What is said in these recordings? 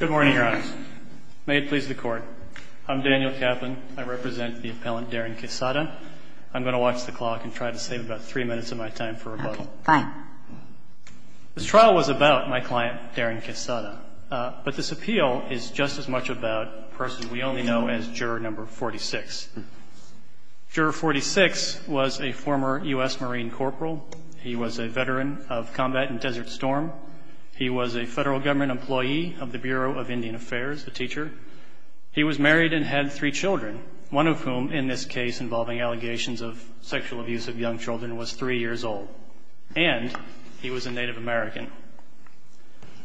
Good morning, your honor. May it please the court. I'm Daniel Kaplan. I represent the appellant Darren Quesada. I'm going to watch the clock and try to save about three minutes of my time for rebuttal. Fine. This trial was about my client, Darren Quesada, but this appeal is just as much about a person we only know as juror number 46. Juror 46 was a former U.S. Marine corporal. He was a veteran of combat in Desert Storm. He was a federal government employee of the Bureau of Indian Affairs, a teacher. He was married and had three children, one of whom, in this case involving allegations of sexual abuse of young children, was three years old. And he was a Native American.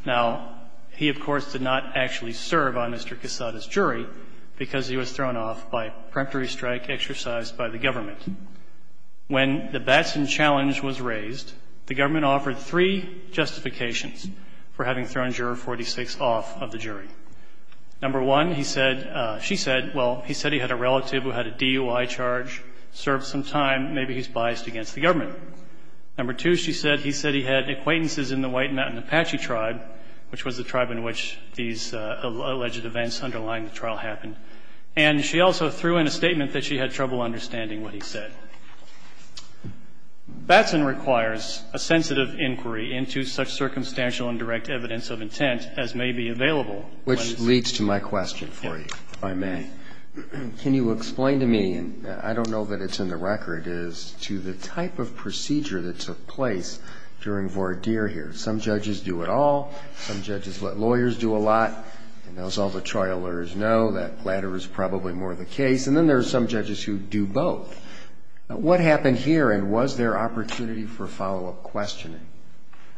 Now, he, of course, did not actually serve on Mr. Quesada's jury because he was thrown off by a preemptory strike exercised by the government. When the Batson challenge was raised, the government offered three justifications for having thrown juror 46 off of the jury. Number one, he said — she said, well, he said he had a relative who had a DUI charge, served some time, maybe he's biased against the government. Number two, she said he said he had acquaintances in the White Mountain Apache tribe, which was the tribe in which these alleged events underlying the trial happened. And she also threw in a statement that she had trouble understanding what he said. Batson requires a sensitive inquiry into such circumstantial and direct evidence of intent as may be available. Roberts. I'm going to ask you a question. Go ahead. Can you explain to me, and I don't know that it's in the record, is to the type of procedure that took place during Vordir here. Some judges do it all. Some judges let lawyers do a lot. And as all the trial lawyers know, that latter is probably more the case. And then there are some judges who do both. What happened here, and was there opportunity for follow-up questioning?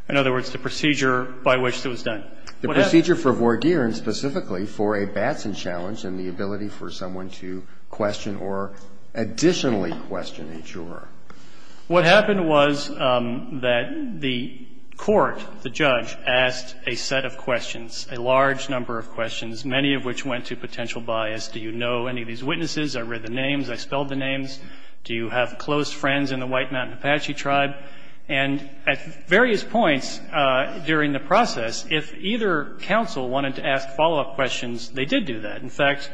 In other words, the procedure by which it was done. The procedure for Vordir and specifically for a Batson challenge and the ability for someone to question or additionally question a juror. What happened was that the court, the judge, asked a set of questions, a large number of questions, many of which went to potential bias. Do you know any of these witnesses? I read the names. I spelled the names. Do you have close friends in the White Mountain Apache tribe? And at various points during the process, if either counsel wanted to ask follow-up questions, they did do that. In fact,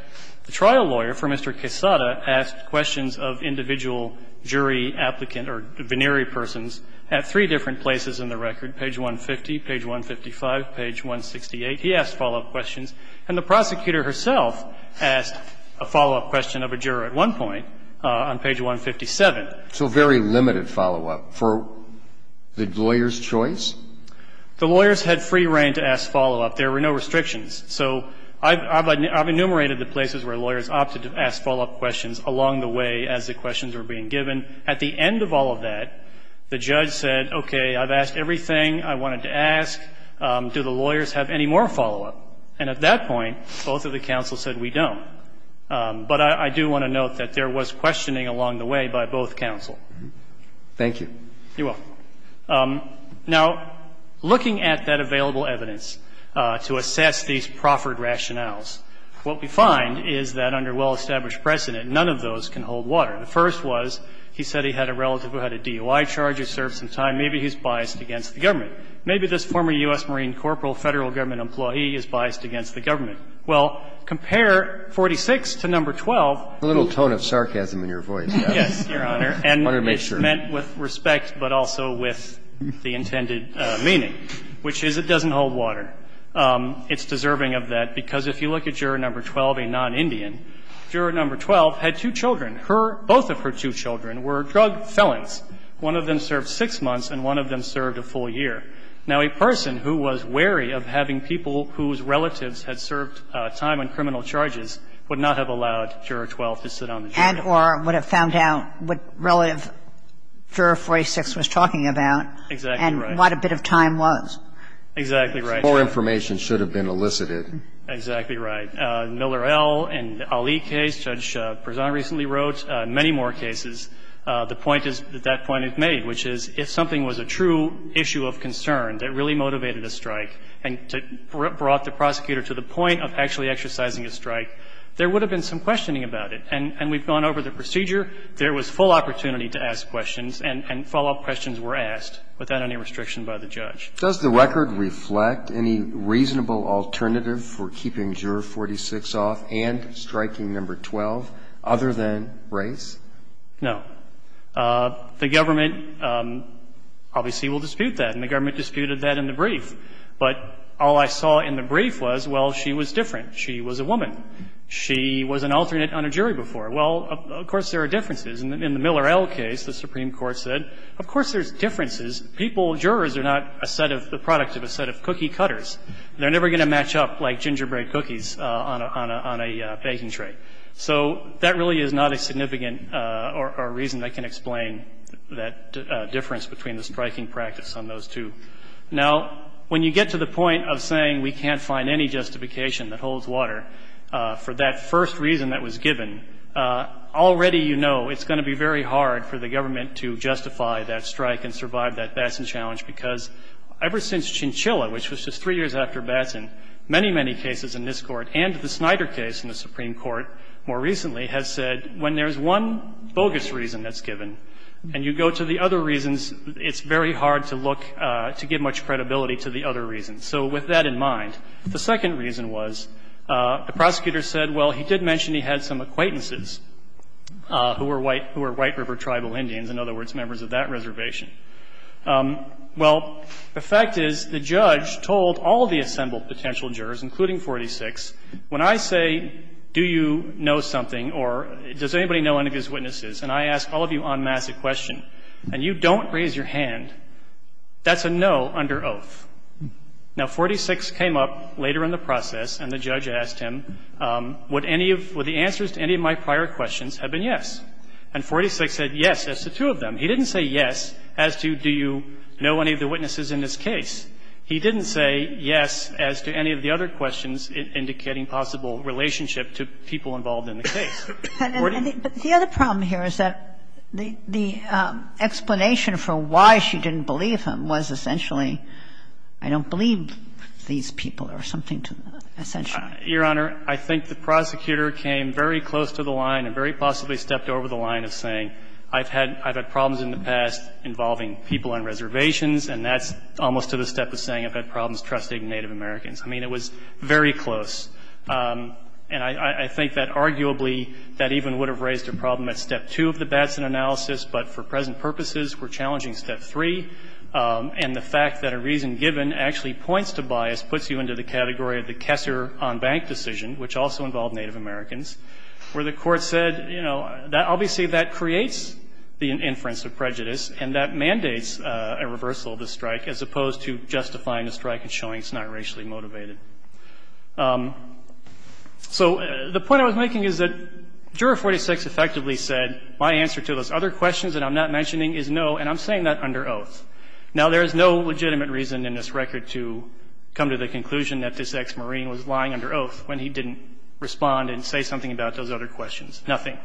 the trial lawyer for Mr. Quesada asked questions of individual jury applicant or venerey persons at three different places in the record, page 150, page 155, page 168. He asked follow-up questions. And the prosecutor herself asked a follow-up question of a juror at one point on page 157. So very limited follow-up for the lawyer's choice? The lawyers had free reign to ask follow-up. There were no restrictions. So I've enumerated the places where lawyers opted to ask follow-up questions along the way as the questions were being given. At the end of all of that, the judge said, okay, I've asked everything I wanted to ask, do the lawyers have any more follow-up? And at that point, both of the counsels said we don't. But I do want to note that there was questioning along the way by both counsel. You're welcome. Now, looking at that available evidence to assess these proffered rationales, what we find is that under well-established precedent, none of those can hold water. The first was he said he had a relative who had a DOI charge who served some time. Maybe he's biased against the government. Maybe this former U.S. Marine Corporal Federal Government employee is biased against the government. Well, compare 46 to No. 12. The little tone of sarcasm in your voice. Yes, Your Honor. I wanted to make sure. And it's meant with respect, but also with the intended meaning, which is it doesn't hold water. It's deserving of that, because if you look at Juror No. 12, a non-Indian, Juror No. 12 had two children. Her – both of her two children were drug felons. One of them served six months and one of them served a full year. Now, a person who was wary of having people whose relatives had served time on criminal charges would not have allowed Juror No. 12 to sit on the jury floor. And or would have found out what relative Juror 46 was talking about. Exactly right. And what a bit of time was. Exactly right. More information should have been elicited. Exactly right. Miller L. and Ali case, Judge Prezan recently wrote, many more cases, the point is, if something was a true issue of concern that really motivated a strike and brought the prosecutor to the point of actually exercising a strike, there would have been some questioning about it. And we've gone over the procedure. There was full opportunity to ask questions, and follow-up questions were asked without any restriction by the judge. Does the record reflect any reasonable alternative for keeping Juror 46 off and striking No. 12 other than race? No. The government obviously will dispute that, and the government disputed that in the brief. But all I saw in the brief was, well, she was different. She was a woman. She was an alternate on a jury before. Well, of course there are differences. In the Miller L. case, the Supreme Court said, of course there's differences. People, jurors, are not a set of the product of a set of cookie cutters. They're never going to match up like gingerbread cookies on a baking tray. So that really is not a significant or a reason that can explain that difference between the striking practice on those two. Now, when you get to the point of saying we can't find any justification that holds water for that first reason that was given, already you know it's going to be very hard for the government to justify that strike and survive that Batson challenge, because ever since Chinchilla, which was just three years after Batson, many, many cases in this Court and the Snyder case in the Supreme Court more recently has said when there's one bogus reason that's given and you go to the other reasons, it's very hard to look to give much credibility to the other reasons. So with that in mind, the second reason was the prosecutor said, well, he did mention he had some acquaintances who were White River tribal Indians, in other words, members of that reservation. Well, the fact is the judge told all the assembled potential jurors, including 486, when I say do you know something or does anybody know any of his witnesses, and I ask all of you en masse a question, and you don't raise your hand, that's a no under oath. Now, 486 came up later in the process, and the judge asked him would any of the answers to any of my prior questions have been yes. And 486 said yes as to two of them. He didn't say yes as to do you know any of the witnesses in this case. He didn't say yes as to any of the other questions indicating possible relationship to people involved in the case. Or do you? Kagan. But the other problem here is that the explanation for why she didn't believe him was essentially I don't believe these people or something, essentially. Your Honor, I think the prosecutor came very close to the line and very possibly stepped over the line of saying I've had problems in the past involving people on reservations, and that's almost to the step of saying I've had problems trusting Native Americans. I mean, it was very close. And I think that arguably that even would have raised a problem at step two of the Batson analysis, but for present purposes we're challenging step three. And the fact that a reason given actually points to bias puts you into the category of the Kessler on bank decision, which also involved Native Americans, where the Court said, you know, obviously that creates the inference of prejudice, and that mandates a reversal of the strike as opposed to justifying the strike and showing it's not racially motivated. So the point I was making is that Juror 46 effectively said my answer to those other questions that I'm not mentioning is no, and I'm saying that under oath. Now, there is no legitimate reason in this record to come to the conclusion that this ex-Marine was lying under oath when he didn't respond and say something about those other questions, nothing.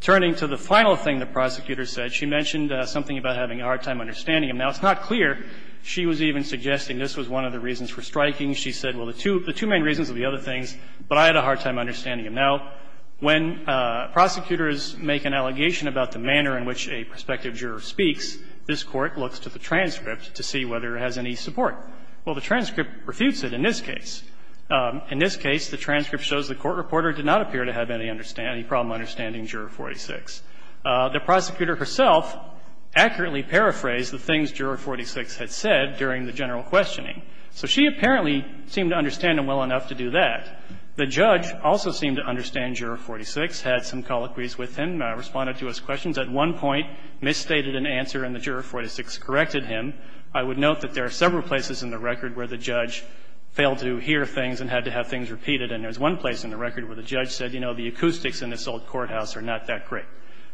Turning to the final thing the prosecutor said, she mentioned something about having a hard time understanding him. Now, it's not clear she was even suggesting this was one of the reasons for striking. She said, well, the two main reasons are the other things, but I had a hard time understanding him. Now, when prosecutors make an allegation about the manner in which a prospective juror speaks, this Court looks to the transcript to see whether it has any support. Well, the transcript refutes it in this case. In this case, the transcript shows the court reporter did not appear to have any problem understanding Juror 46. The prosecutor herself accurately paraphrased the things Juror 46 had said during the general questioning. So she apparently seemed to understand him well enough to do that. The judge also seemed to understand Juror 46, had some colloquies with him, responded to his questions. At one point, misstated an answer and the Juror 46 corrected him. I would note that there are several places in the record where the judge failed to hear things and had to have things repeated, and there's one place in the record where the judge said, you know, the acoustics in this old courthouse are not that great.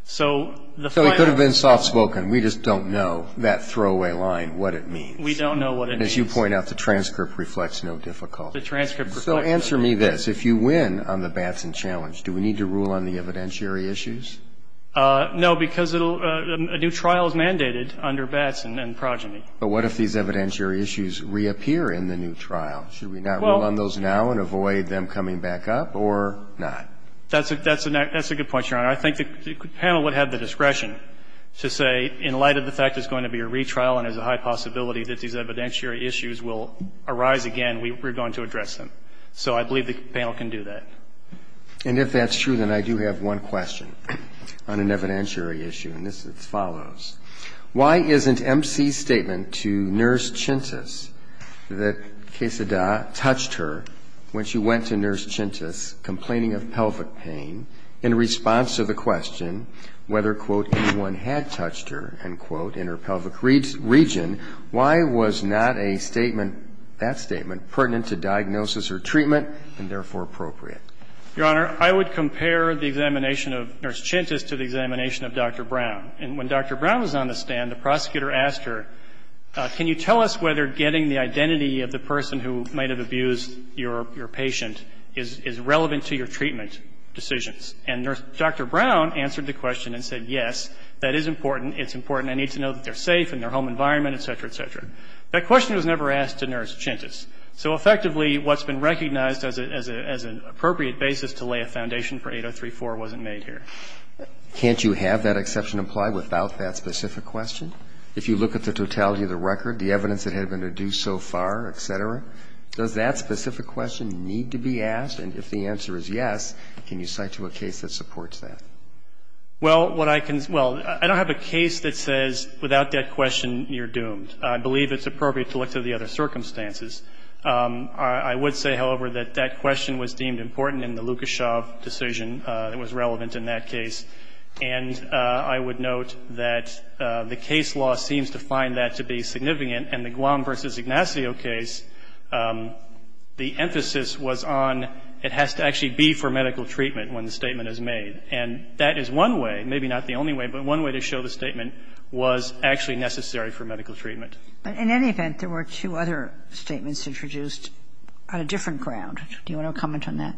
So the final thing. So it could have been soft spoken. We just don't know that throwaway line, what it means. We don't know what it means. And as you point out, the transcript reflects no difficulty. So answer me this. If you win on the Batson challenge, do we need to rule on the evidentiary issues? No, because a new trial is mandated under Batson and progeny. But what if these evidentiary issues reappear in the new trial? Should we not rule on those now and avoid them coming back up or not? That's a good point, Your Honor. I think the panel would have the discretion to say, in light of the fact it's going to be a retrial and there's a high possibility that these evidentiary issues will So I believe the panel can do that. And if that's true, then I do have one question on an evidentiary issue. And this follows. Why isn't MC's statement to Nurse Chintus that Quesada touched her when she went to Nurse Chintus complaining of pelvic pain in response to the question whether, quote, anyone had touched her, end quote, in her pelvic region, why was not a diagnosis or treatment and therefore appropriate? Your Honor, I would compare the examination of Nurse Chintus to the examination of Dr. Brown. And when Dr. Brown was on the stand, the prosecutor asked her, can you tell us whether getting the identity of the person who might have abused your patient is relevant to your treatment decisions? And Dr. Brown answered the question and said, yes, that is important, it's important, I need to know that they're safe in their home environment, et cetera, et cetera. That question was never asked to Nurse Chintus. So effectively, what's been recognized as an appropriate basis to lay a foundation for 803.4 wasn't made here. Can't you have that exception applied without that specific question? If you look at the totality of the record, the evidence that had been deduced so far, et cetera, does that specific question need to be asked? And if the answer is yes, can you cite you a case that supports that? Well, what I can say, well, I don't have a case that says without that question you're doomed. I believe it's appropriate to look to the other circumstances. I would say, however, that that question was deemed important in the Lukashev decision. It was relevant in that case. And I would note that the case law seems to find that to be significant, and the Guam v. Ignacio case, the emphasis was on it has to actually be for medical treatment when the statement is made. And that is one way, maybe not the only way, but one way to show the statement was actually necessary for medical treatment. In any event, there were two other statements introduced on a different ground. Do you want to comment on that?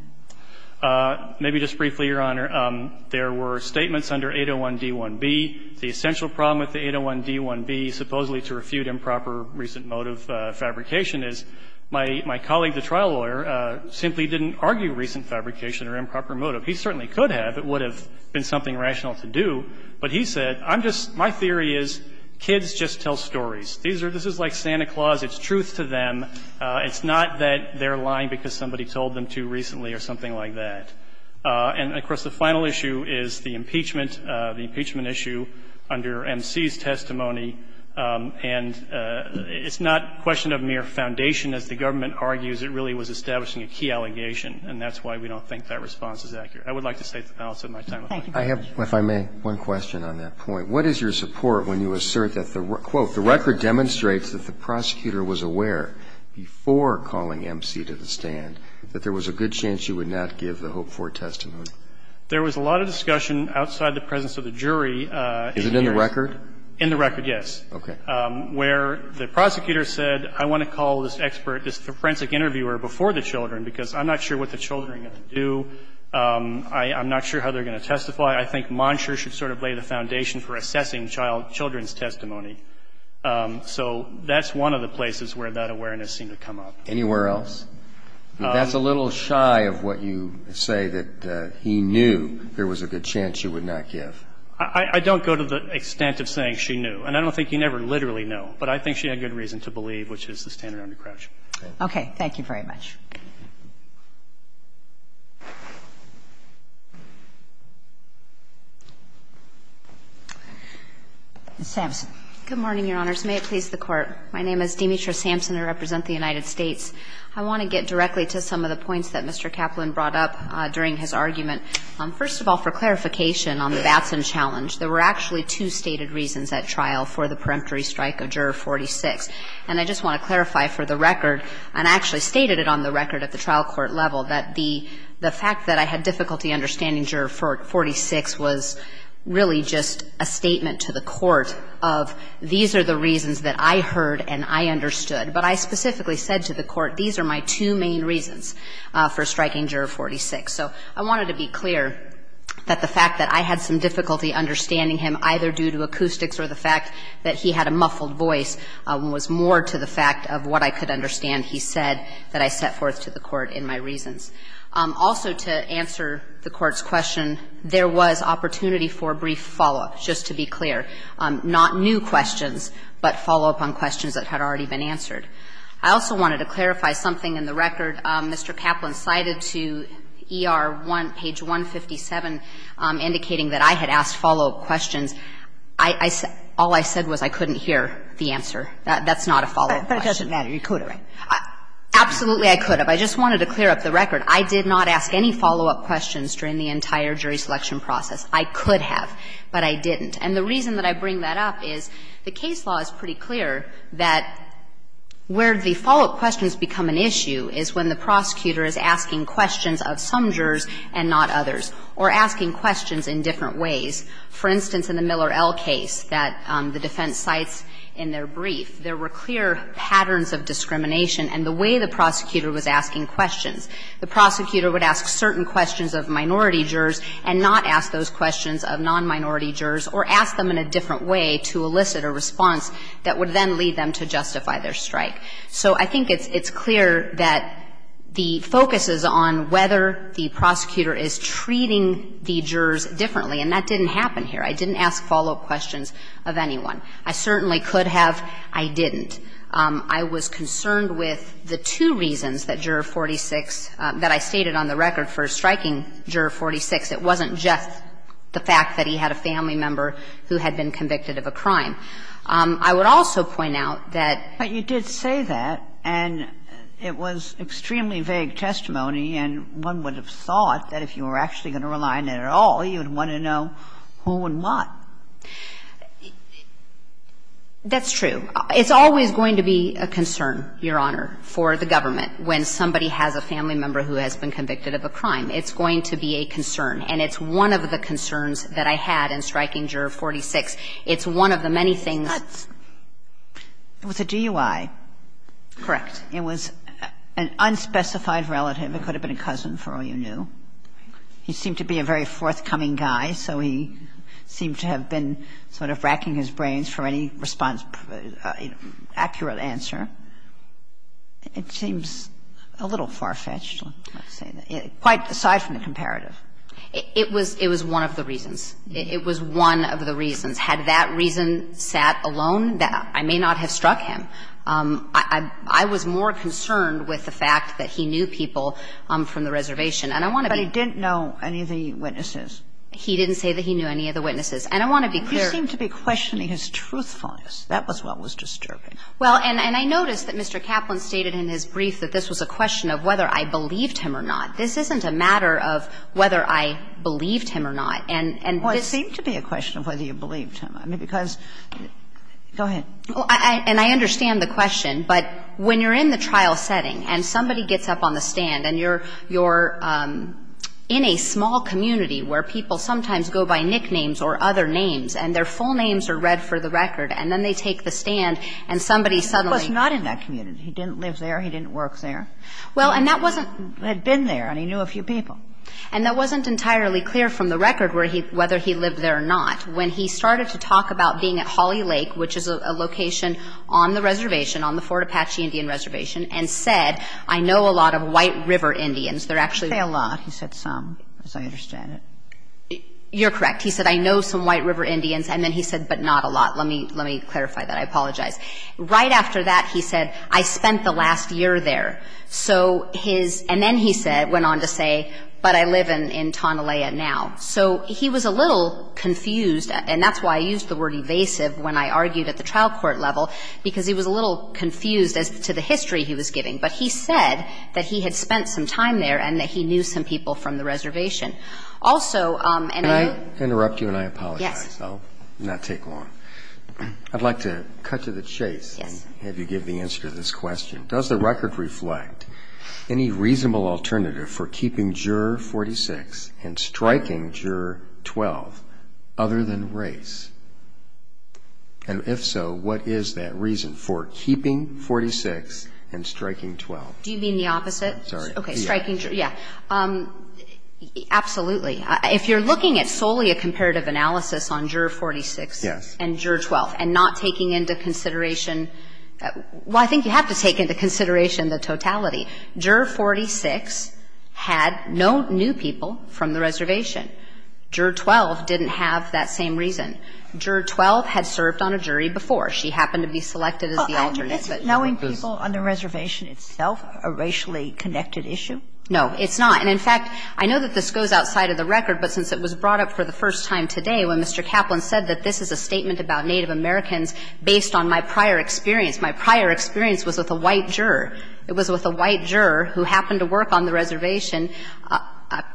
Maybe just briefly, Your Honor. There were statements under 801d-1b. The essential problem with the 801d-1b, supposedly to refute improper recent motive fabrication, is my colleague, the trial lawyer, simply didn't argue recent fabrication or improper motive. He certainly could have. It would have been something rational to do. But he said, I'm just, my theory is kids just tell stories. These are, this is like Santa Claus. It's truth to them. It's not that they're lying because somebody told them to recently or something like that. And, of course, the final issue is the impeachment, the impeachment issue under M.C.'s testimony. And it's not a question of mere foundation, as the government argues. It really was establishing a key allegation, and that's why we don't think that response is accurate. I would like to say that's the balance of my time. Thank you. I have, if I may, one question on that point. What is your support when you assert that, quote, the record demonstrates that the prosecutor was aware before calling M.C. to the stand that there was a good chance you would not give the Hope IV testimony? There was a lot of discussion outside the presence of the jury. Is it in the record? In the record, yes. Okay. Where the prosecutor said, I want to call this expert, this forensic interviewer before the children, because I'm not sure what the children are going to do. I'm not sure how they're going to testify. I think Monsher should sort of lay the foundation for assessing child children's testimony. So that's one of the places where that awareness seemed to come up. Anywhere else? That's a little shy of what you say, that he knew there was a good chance you would not give. I don't go to the extent of saying she knew. And I don't think you never literally know. But I think she had good reason to believe, which is the standard under Crouch. Okay. Thank you very much. Ms. Sampson. Good morning, Your Honors. May it please the Court. My name is Demetra Sampson. I represent the United States. I want to get directly to some of the points that Mr. Kaplan brought up during his argument. First of all, for clarification on the Batson challenge, there were actually two stated reasons at trial for the peremptory strike of Juror 46. And I just want to clarify for the record, and I actually stated it on the record at the trial court level, that the fact that I had difficulty understanding Juror 46 was really just a statement to the Court of these are the reasons that I heard and I understood. But I specifically said to the Court, these are my two main reasons for striking Juror 46. So I wanted to be clear that the fact that I had some difficulty understanding him either due to acoustics or the fact that he had a muffled voice was more to the fact of what I could understand he said that I set forth to the Court in my reasons. Also, to answer the Court's question, there was opportunity for brief follow-up, just to be clear, not new questions, but follow-up on questions that had already been answered. I also wanted to clarify something in the record. Mr. Kaplan cited to ER 1, page 157, indicating that I had asked follow-up questions I said, all I said was I couldn't hear the answer. That's not a follow-up question. Kagan But it doesn't matter. You could have, right? Absolutely, I could have. I just wanted to clear up the record. I did not ask any follow-up questions during the entire jury selection process. I could have, but I didn't. And the reason that I bring that up is the case law is pretty clear that where the follow-up questions become an issue is when the prosecutor is asking questions of some jurors and not others or asking questions in different ways. For instance, in the Miller L case that the defense cites in their brief, there were clear patterns of discrimination and the way the prosecutor was asking questions. The prosecutor would ask certain questions of minority jurors and not ask those questions of non-minority jurors or ask them in a different way to elicit a response that would then lead them to justify their strike. So I think it's clear that the focus is on whether the prosecutor is treating the jurors differently, and that didn't happen here. I didn't ask follow-up questions of anyone. I certainly could have. I didn't. I was concerned with the two reasons that Juror 46, that I stated on the record for striking Juror 46. It wasn't just the fact that he had a family member who had been convicted of a crime. I would also point out that you did say that and it was extremely vague testimony and one would have thought that if you were actually going to rely on it at all, you would want to know who and what. That's true. It's always going to be a concern, Your Honor, for the government when somebody has a family member who has been convicted of a crime. It's going to be a concern. And it's one of the concerns that I had in striking Juror 46. It's one of the many things. It was a DUI. Correct. It was an unspecified relative. It could have been a cousin for all you knew. He seemed to be a very forthcoming guy, so he seemed to have been sort of racking his brains for any response, accurate answer. It seems a little far-fetched. Quite aside from the comparative. It was one of the reasons. It was one of the reasons. Had that reason sat alone, I may not have struck him. I was more concerned with the fact that he knew people from the reservation. And I want to be clear. But he didn't know any of the witnesses. He didn't say that he knew any of the witnesses. And I want to be clear. You seem to be questioning his truthfulness. That was what was disturbing. Well, and I noticed that Mr. Kaplan stated in his brief that this was a question of whether I believed him or not. This isn't a matter of whether I believed him or not. And this is a matter of whether I believed him or not. Well, it seemed to be a question of whether you believed him. I mean, because go ahead. Well, and I understand the question. But when you're in the trial setting and somebody gets up on the stand and you're in a small community where people sometimes go by nicknames or other names and their full names are read for the record, and then they take the stand and somebody suddenly — He was not in that community. He didn't live there. He didn't work there. Well, and that wasn't — He had been there, and he knew a few people. And that wasn't entirely clear from the record whether he lived there or not. When he started to talk about being at Holly Lake, which is a location on the reservation, on the Fort Apache Indian Reservation, and said, I know a lot of White River Indians, they're actually — He didn't say a lot. He said some, as I understand it. You're correct. He said, I know some White River Indians, and then he said, but not a lot. Let me clarify that. I apologize. Right after that, he said, I spent the last year there. So his — and then he said, went on to say, but I live in Tonelaya now. So he was a little confused, and that's why I used the word evasive when I argued at the trial court level, because he was a little confused as to the history he was giving. But he said that he had spent some time there and that he knew some people from the reservation. Also — Can I interrupt you, and I apologize? Yes. I'll not take long. I'd like to cut to the chase and have you give the answer to this question. Does the record reflect any reasonable alternative for keeping Juror 46 and striking Juror 12 other than race? And if so, what is that reason for keeping 46 and striking 12? Do you mean the opposite? Sorry. Okay. Striking — yeah. Absolutely. If you're looking at solely a comparative analysis on Juror 46 and Juror 12 and not taking into consideration — well, I think you have to take into consideration the totality. Juror 46 had no new people from the reservation. Juror 12 didn't have that same reason. Juror 12 had served on a jury before. She happened to be selected as the alternate. But knowing people on the reservation itself, a racially connected issue? No, it's not. And in fact, I know that this goes outside of the record, but since it was brought up for the first time today when Mr. Kaplan said that this is a statement about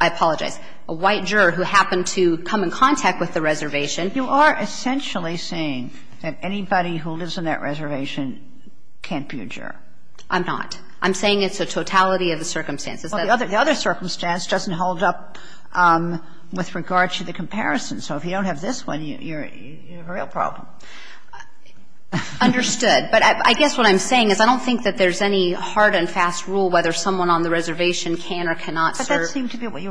I apologize. A white juror who happened to come in contact with the reservation. You are essentially saying that anybody who lives on that reservation can't be a juror. I'm not. I'm saying it's a totality of the circumstances. Well, the other circumstance doesn't hold up with regard to the comparison. So if you don't have this one, you're a real problem. Understood. But I guess what I'm saying is I don't think that there's any hard and fast rule whether someone on the reservation can or cannot serve. But that seemed to be what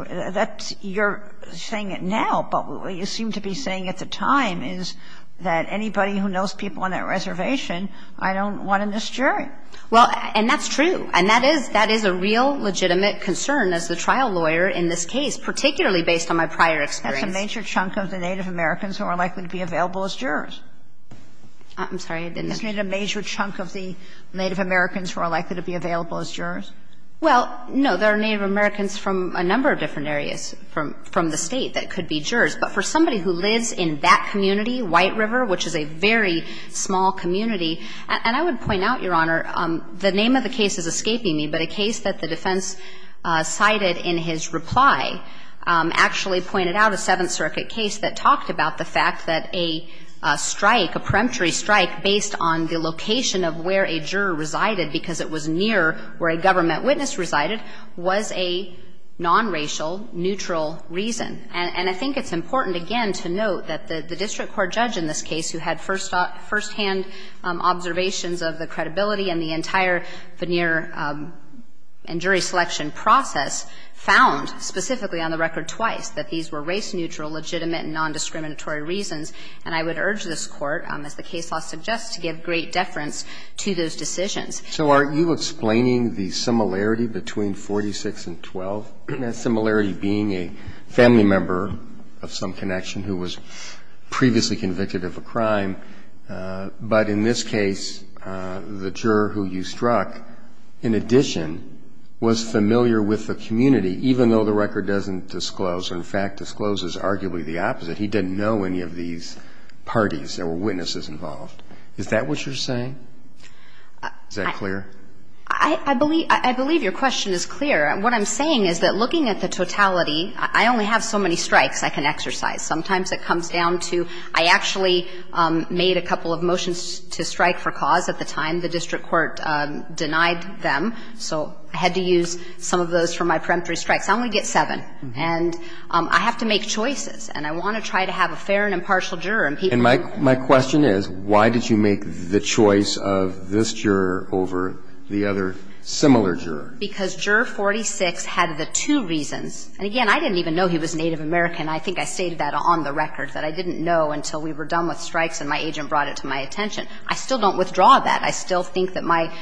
you're saying now. But what you seem to be saying at the time is that anybody who knows people on that reservation, I don't want in this jury. Well, and that's true. And that is a real legitimate concern as the trial lawyer in this case, particularly based on my prior experience. That's a major chunk of the Native Americans who are likely to be available as jurors. I'm sorry. I didn't know. Isn't it a major chunk of the Native Americans who are likely to be available as jurors? Well, no. There are Native Americans from a number of different areas from the State that could be jurors. But for somebody who lives in that community, White River, which is a very small community, and I would point out, Your Honor, the name of the case is escaping me, but a case that the defense cited in his reply actually pointed out a Seventh Strike, a peremptory strike based on the location of where a juror resided because it was near where a government witness resided, was a nonracial, neutral reason. And I think it's important, again, to note that the district court judge in this case who had first-hand observations of the credibility and the entire veneer and jury selection process found specifically on the record twice that these were race-neutral, legitimate and nondiscriminatory reasons. And I would urge this Court, as the case law suggests, to give great deference to those decisions. So are you explaining the similarity between 46 and 12, that similarity being a family member of some connection who was previously convicted of a crime, but in this case the juror who you struck, in addition, was familiar with the community, even though the record doesn't disclose or, in fact, discloses arguably the opposite, he didn't know any of these parties. There were witnesses involved. Is that what you're saying? Is that clear? I believe your question is clear. What I'm saying is that looking at the totality, I only have so many strikes I can exercise. Sometimes it comes down to I actually made a couple of motions to strike for cause at the time. The district court denied them. So I had to use some of those for my peremptory strikes. I'm going to get seven. And I have to make choices. And I want to try to have a fair and impartial juror. And my question is, why did you make the choice of this juror over the other similar juror? Because Juror 46 had the two reasons. And, again, I didn't even know he was Native American. I think I stated that on the record, that I didn't know until we were done with strikes and my agent brought it to my attention. I still don't withdraw that. I still think that my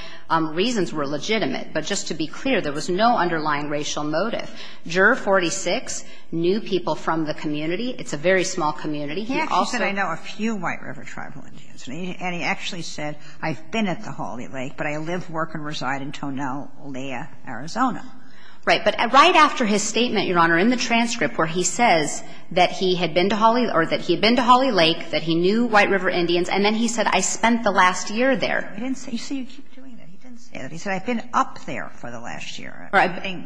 reasons were legitimate. But just to be clear, there was no underlying racial motive. Juror 46 knew people from the community. It's a very small community. He also said I know a few White River tribal Indians. And he actually said I've been at the Holly Lake, but I live, work and reside in Tonell, Olea, Arizona. Right. But right after his statement, Your Honor, in the transcript where he says that he had been to Holly or that he had been to Holly Lake, that he knew White River Indians, and then he said I spent the last year there. He didn't say that. You see, you keep doing that. He didn't say that. He said I've been up there for the last year. Right.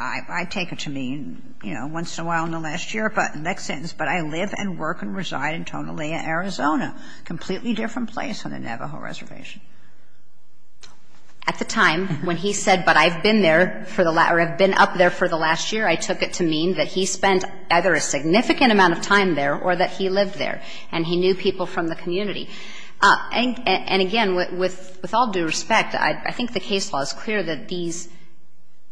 I take it to mean, you know, once in a while in the last year, but next sentence, but I live and work and reside in Tonell, Olea, Arizona, completely different place on the Navajo Reservation. At the time when he said, but I've been there for the last or I've been up there for the last year, I took it to mean that he spent either a significant amount of time there or that he lived there and he knew people from the community. And again, with all due respect, I think the case law is clear that these,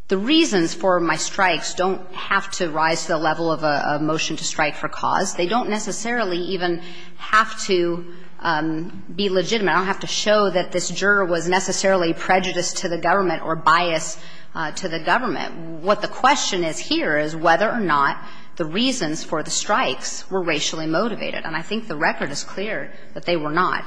the reasons for my strikes don't have to rise to the level of a motion to strike for cause. They don't necessarily even have to be legitimate. I don't have to show that this juror was necessarily prejudiced to the government or biased to the government. What the question is here is whether or not the reasons for the strikes were racially motivated. And I think the record is clear that they were not.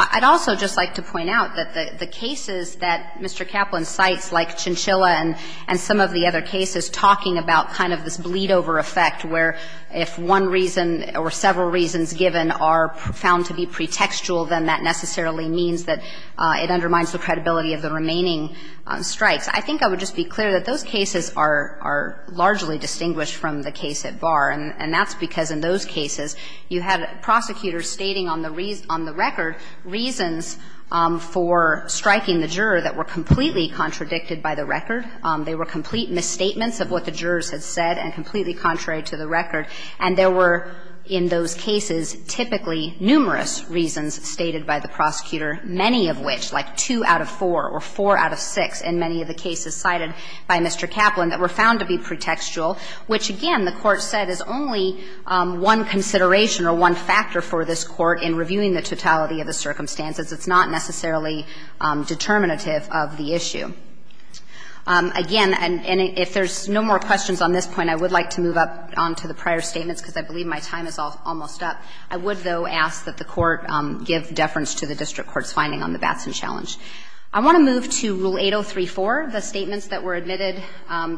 I'd also just like to point out that the cases that Mr. Kaplan cites, like Chinchilla and some of the other cases, talking about kind of this bleed-over effect where if one reason or several reasons given are found to be pretextual, then that necessarily means that it undermines the credibility of the remaining strikes. I think I would just be clear that those cases are largely distinguished from the case at Barr. And that's because in those cases, you had prosecutors stating on the record reasons for striking the juror that were completely contradicted by the record. They were complete misstatements of what the jurors had said and completely contrary to the record. And there were, in those cases, typically numerous reasons stated by the prosecutor, many of which, like 2 out of 4 or 4 out of 6 in many of the cases cited by Mr. Kaplan, that were found to be pretextual, which, again, the Court said is only one consideration or one factor for this Court in reviewing the totality of the circumstances. It's not necessarily determinative of the issue. Again, and if there's no more questions on this point, I would like to move up on to the prior statements, because I believe my time is almost up. I would, though, ask that the Court give deference to the district court's finding on the Batson challenge. I want to move to Rule 803-4, the statements that were admitted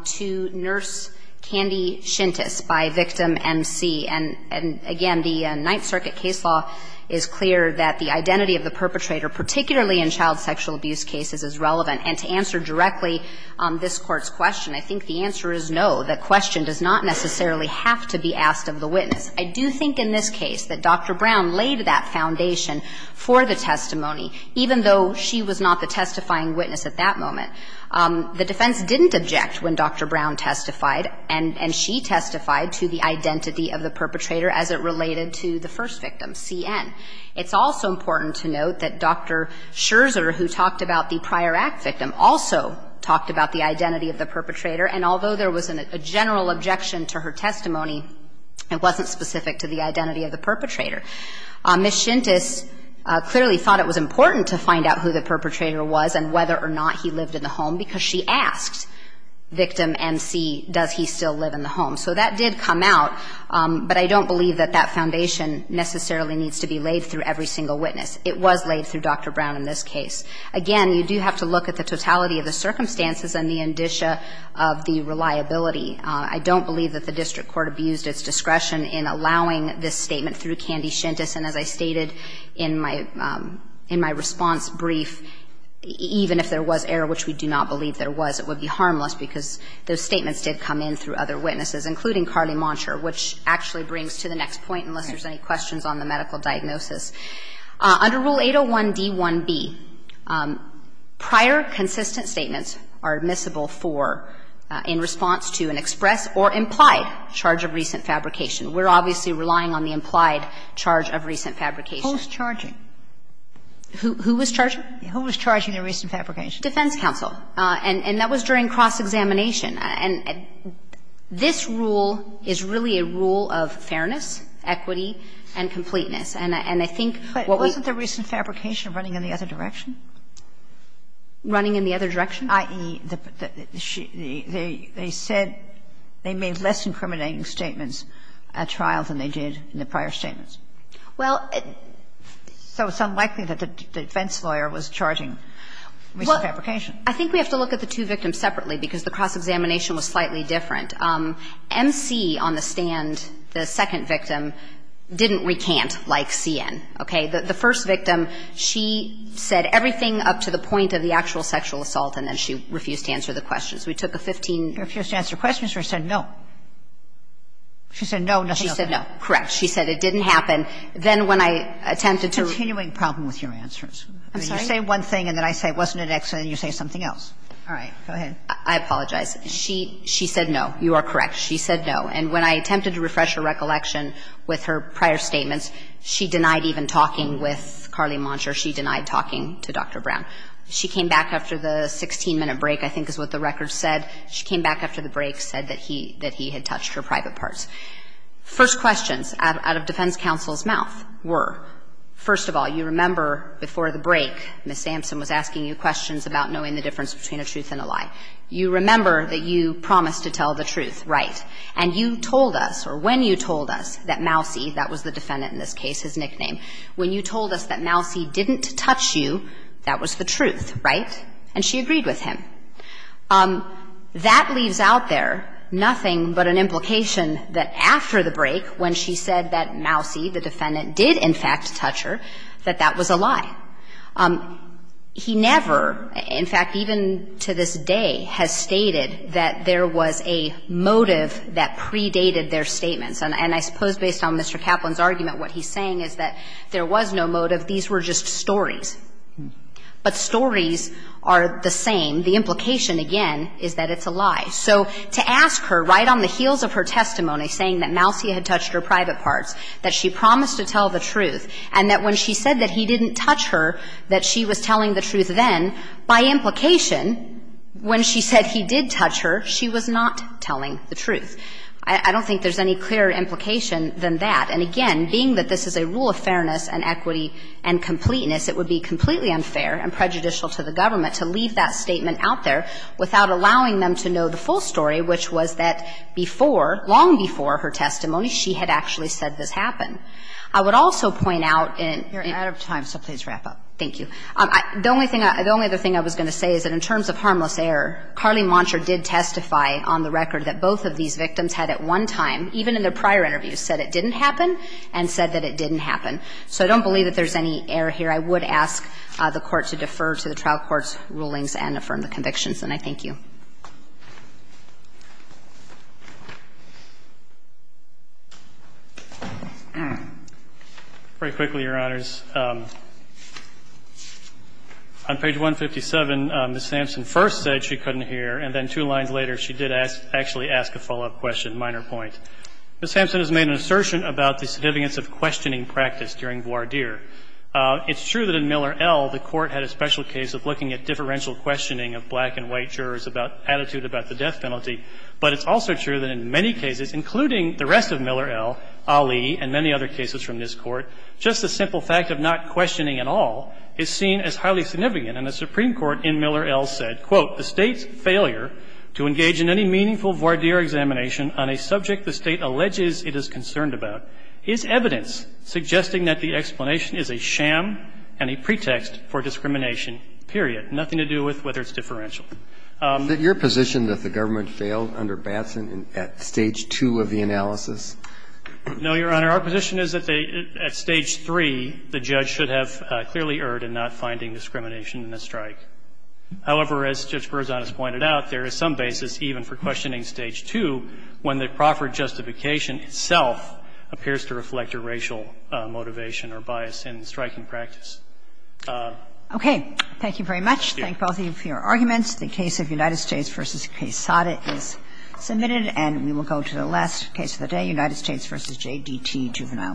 to Nurse Candy Shintas by victim MC. And again, the Ninth Circuit case law is clear that the identity of the perpetrator, particularly in child sexual abuse cases, is relevant. And to answer directly this Court's question, I think the answer is no. The question does not necessarily have to be asked of the witness. I do think in this case that Dr. Brown laid that foundation for the testimony, even though she was not the testifying witness at that moment. The defense didn't object when Dr. Brown testified and she testified to the identity of the perpetrator as it related to the first victim, C.N. It's also important to note that Dr. Scherzer, who talked about the prior act victim, also talked about the identity of the perpetrator. And although there was a general objection to her testimony, it wasn't specific to the identity of the perpetrator. Ms. Shintas clearly thought it was important to find out who the perpetrator was and whether or not he lived in the home, because she asked victim MC, does he still live in the home? So that did come out, but I don't believe that that foundation necessarily needs to be laid through every single witness. It was laid through Dr. Brown in this case. Again, you do have to look at the totality of the circumstances and the indicia of the reliability. I don't believe that the district court abused its discretion in allowing this statement through Kandi Shintas. And as I stated in my response brief, even if there was error, which we do not believe there was, it would be harmless, because those statements did come in through other witnesses, including Carly Monsher, which actually brings to the next point, unless there's any questions on the medical diagnosis. Under Rule 801d1b, prior consistent statements are admissible for in response to an express or implied charge of recent fabrication. We're obviously relying on the implied charge of recent fabrication. Sotomayor, who was charging? Sotomayor, who was charging a recent fabrication? Defense counsel, and that was during cross-examination. And this rule is really a rule of fairness, equity, and completeness. And I think what we ---- But wasn't the recent fabrication running in the other direction? Running in the other direction? I.e., they said they made less incriminating statements at trial than they did in the prior statements. Well ---- So it's unlikely that the defense lawyer was charging recent fabrication. I think we have to look at the two victims separately, because the cross-examination was slightly different. M.C. on the stand, the second victim, didn't recant like C.N. Okay? The first victim, she said everything up to the point of the actual sexual assault, and then she refused to answer the questions. We took a 15 ---- Refused to answer questions, or she said no? She said no, nothing else? She said no. Correct. She said it didn't happen. Then when I attempted to ---- It's a continuing problem with your answers. I'm sorry? You say one thing, and then I say it wasn't an accident, and you say something else. All right. Go ahead. I apologize. She said no. You are correct. She said no. And when I attempted to refresh her recollection with her prior statements, she denied even talking with Carly Monsher. She denied talking to Dr. Brown. She came back after the 16-minute break, I think is what the record said. She came back after the break, said that he had touched her private parts. First questions out of defense counsel's mouth were, first of all, you remember before the break, Ms. Sampson was asking you questions about knowing the difference between a truth and a lie. You remember that you promised to tell the truth, right? And you told us, or when you told us, that Mousey, that was the defendant in this case, his nickname, when you told us that Mousey didn't touch you, that was the truth, right? And she agreed with him. That leaves out there nothing but an implication that after the break, when she said that Mousey, the defendant, did in fact touch her, that that was a lie. He never, in fact, even to this day, has stated that there was a motive that predated their statements. And I suppose based on Mr. Kaplan's argument, what he's saying is that there was no motive. These were just stories. But stories are the same. The implication, again, is that it's a lie. So to ask her, right on the heels of her testimony, saying that Mousey had touched her private parts, that she promised to tell the truth, and that when she said that he didn't touch her, that she was telling the truth then, by implication, when she said he did touch her, she was not telling the truth. I don't think there's any clearer implication than that. And again, being that this is a rule of fairness and equity and completeness, it would be completely unfair and prejudicial to the government to leave that statement out there without allowing them to know the full story, which was that before, long before her testimony, she had actually said this happened. So I'm going to stop there. I don't have time, so please wrap up. Thank you. The only thing I was going to say is that in terms of harmless error, Carly Monsher did testify on the record that both of these victims had at one time, even in their prior interviews, said it didn't happen and said that it didn't happen. So I don't believe that there's any error here. I would ask the Court to defer to the trial court's rulings and affirm the convictions. And I thank you. Very quickly, Your Honors. On page 157, Ms. Sampson first said she couldn't hear, and then two lines later, she did actually ask a follow-up question, minor point. Ms. Sampson has made an assertion about the significance of questioning practice during voir dire. It's true that in Miller L., the Court had a special case of looking at differential questioning of black and white jurors' attitude about the death penalty, but it's also true that in many cases, including the rest of Miller L., Ali, and many other cases from this Court, just the simple fact of not questioning at all is seen as highly significant. And the Supreme Court in Miller L. said, quote, "'The State's failure to engage in any meaningful voir dire examination on a subject the State alleges it is concerned about is evidence suggesting that the explanation is a sham and a pretext for discrimination, period. Nothing to do with whether it's differential.'" Is it your position that the government failed under Batson at stage 2 of the analysis? No, Your Honor. Our position is that they, at stage 3, the judge should have clearly erred in not finding discrimination in the strike. However, as Judge Berzon has pointed out, there is some basis even for questioning stage 2 when the proffered justification itself appears to reflect a racial motivation or bias in striking practice. Okay. Thank you very much. Thank both of you for your arguments. The case of United States v. Quesada is submitted. And we will go to the last case of the day, United States v. J.D.T. Juvenile Mail.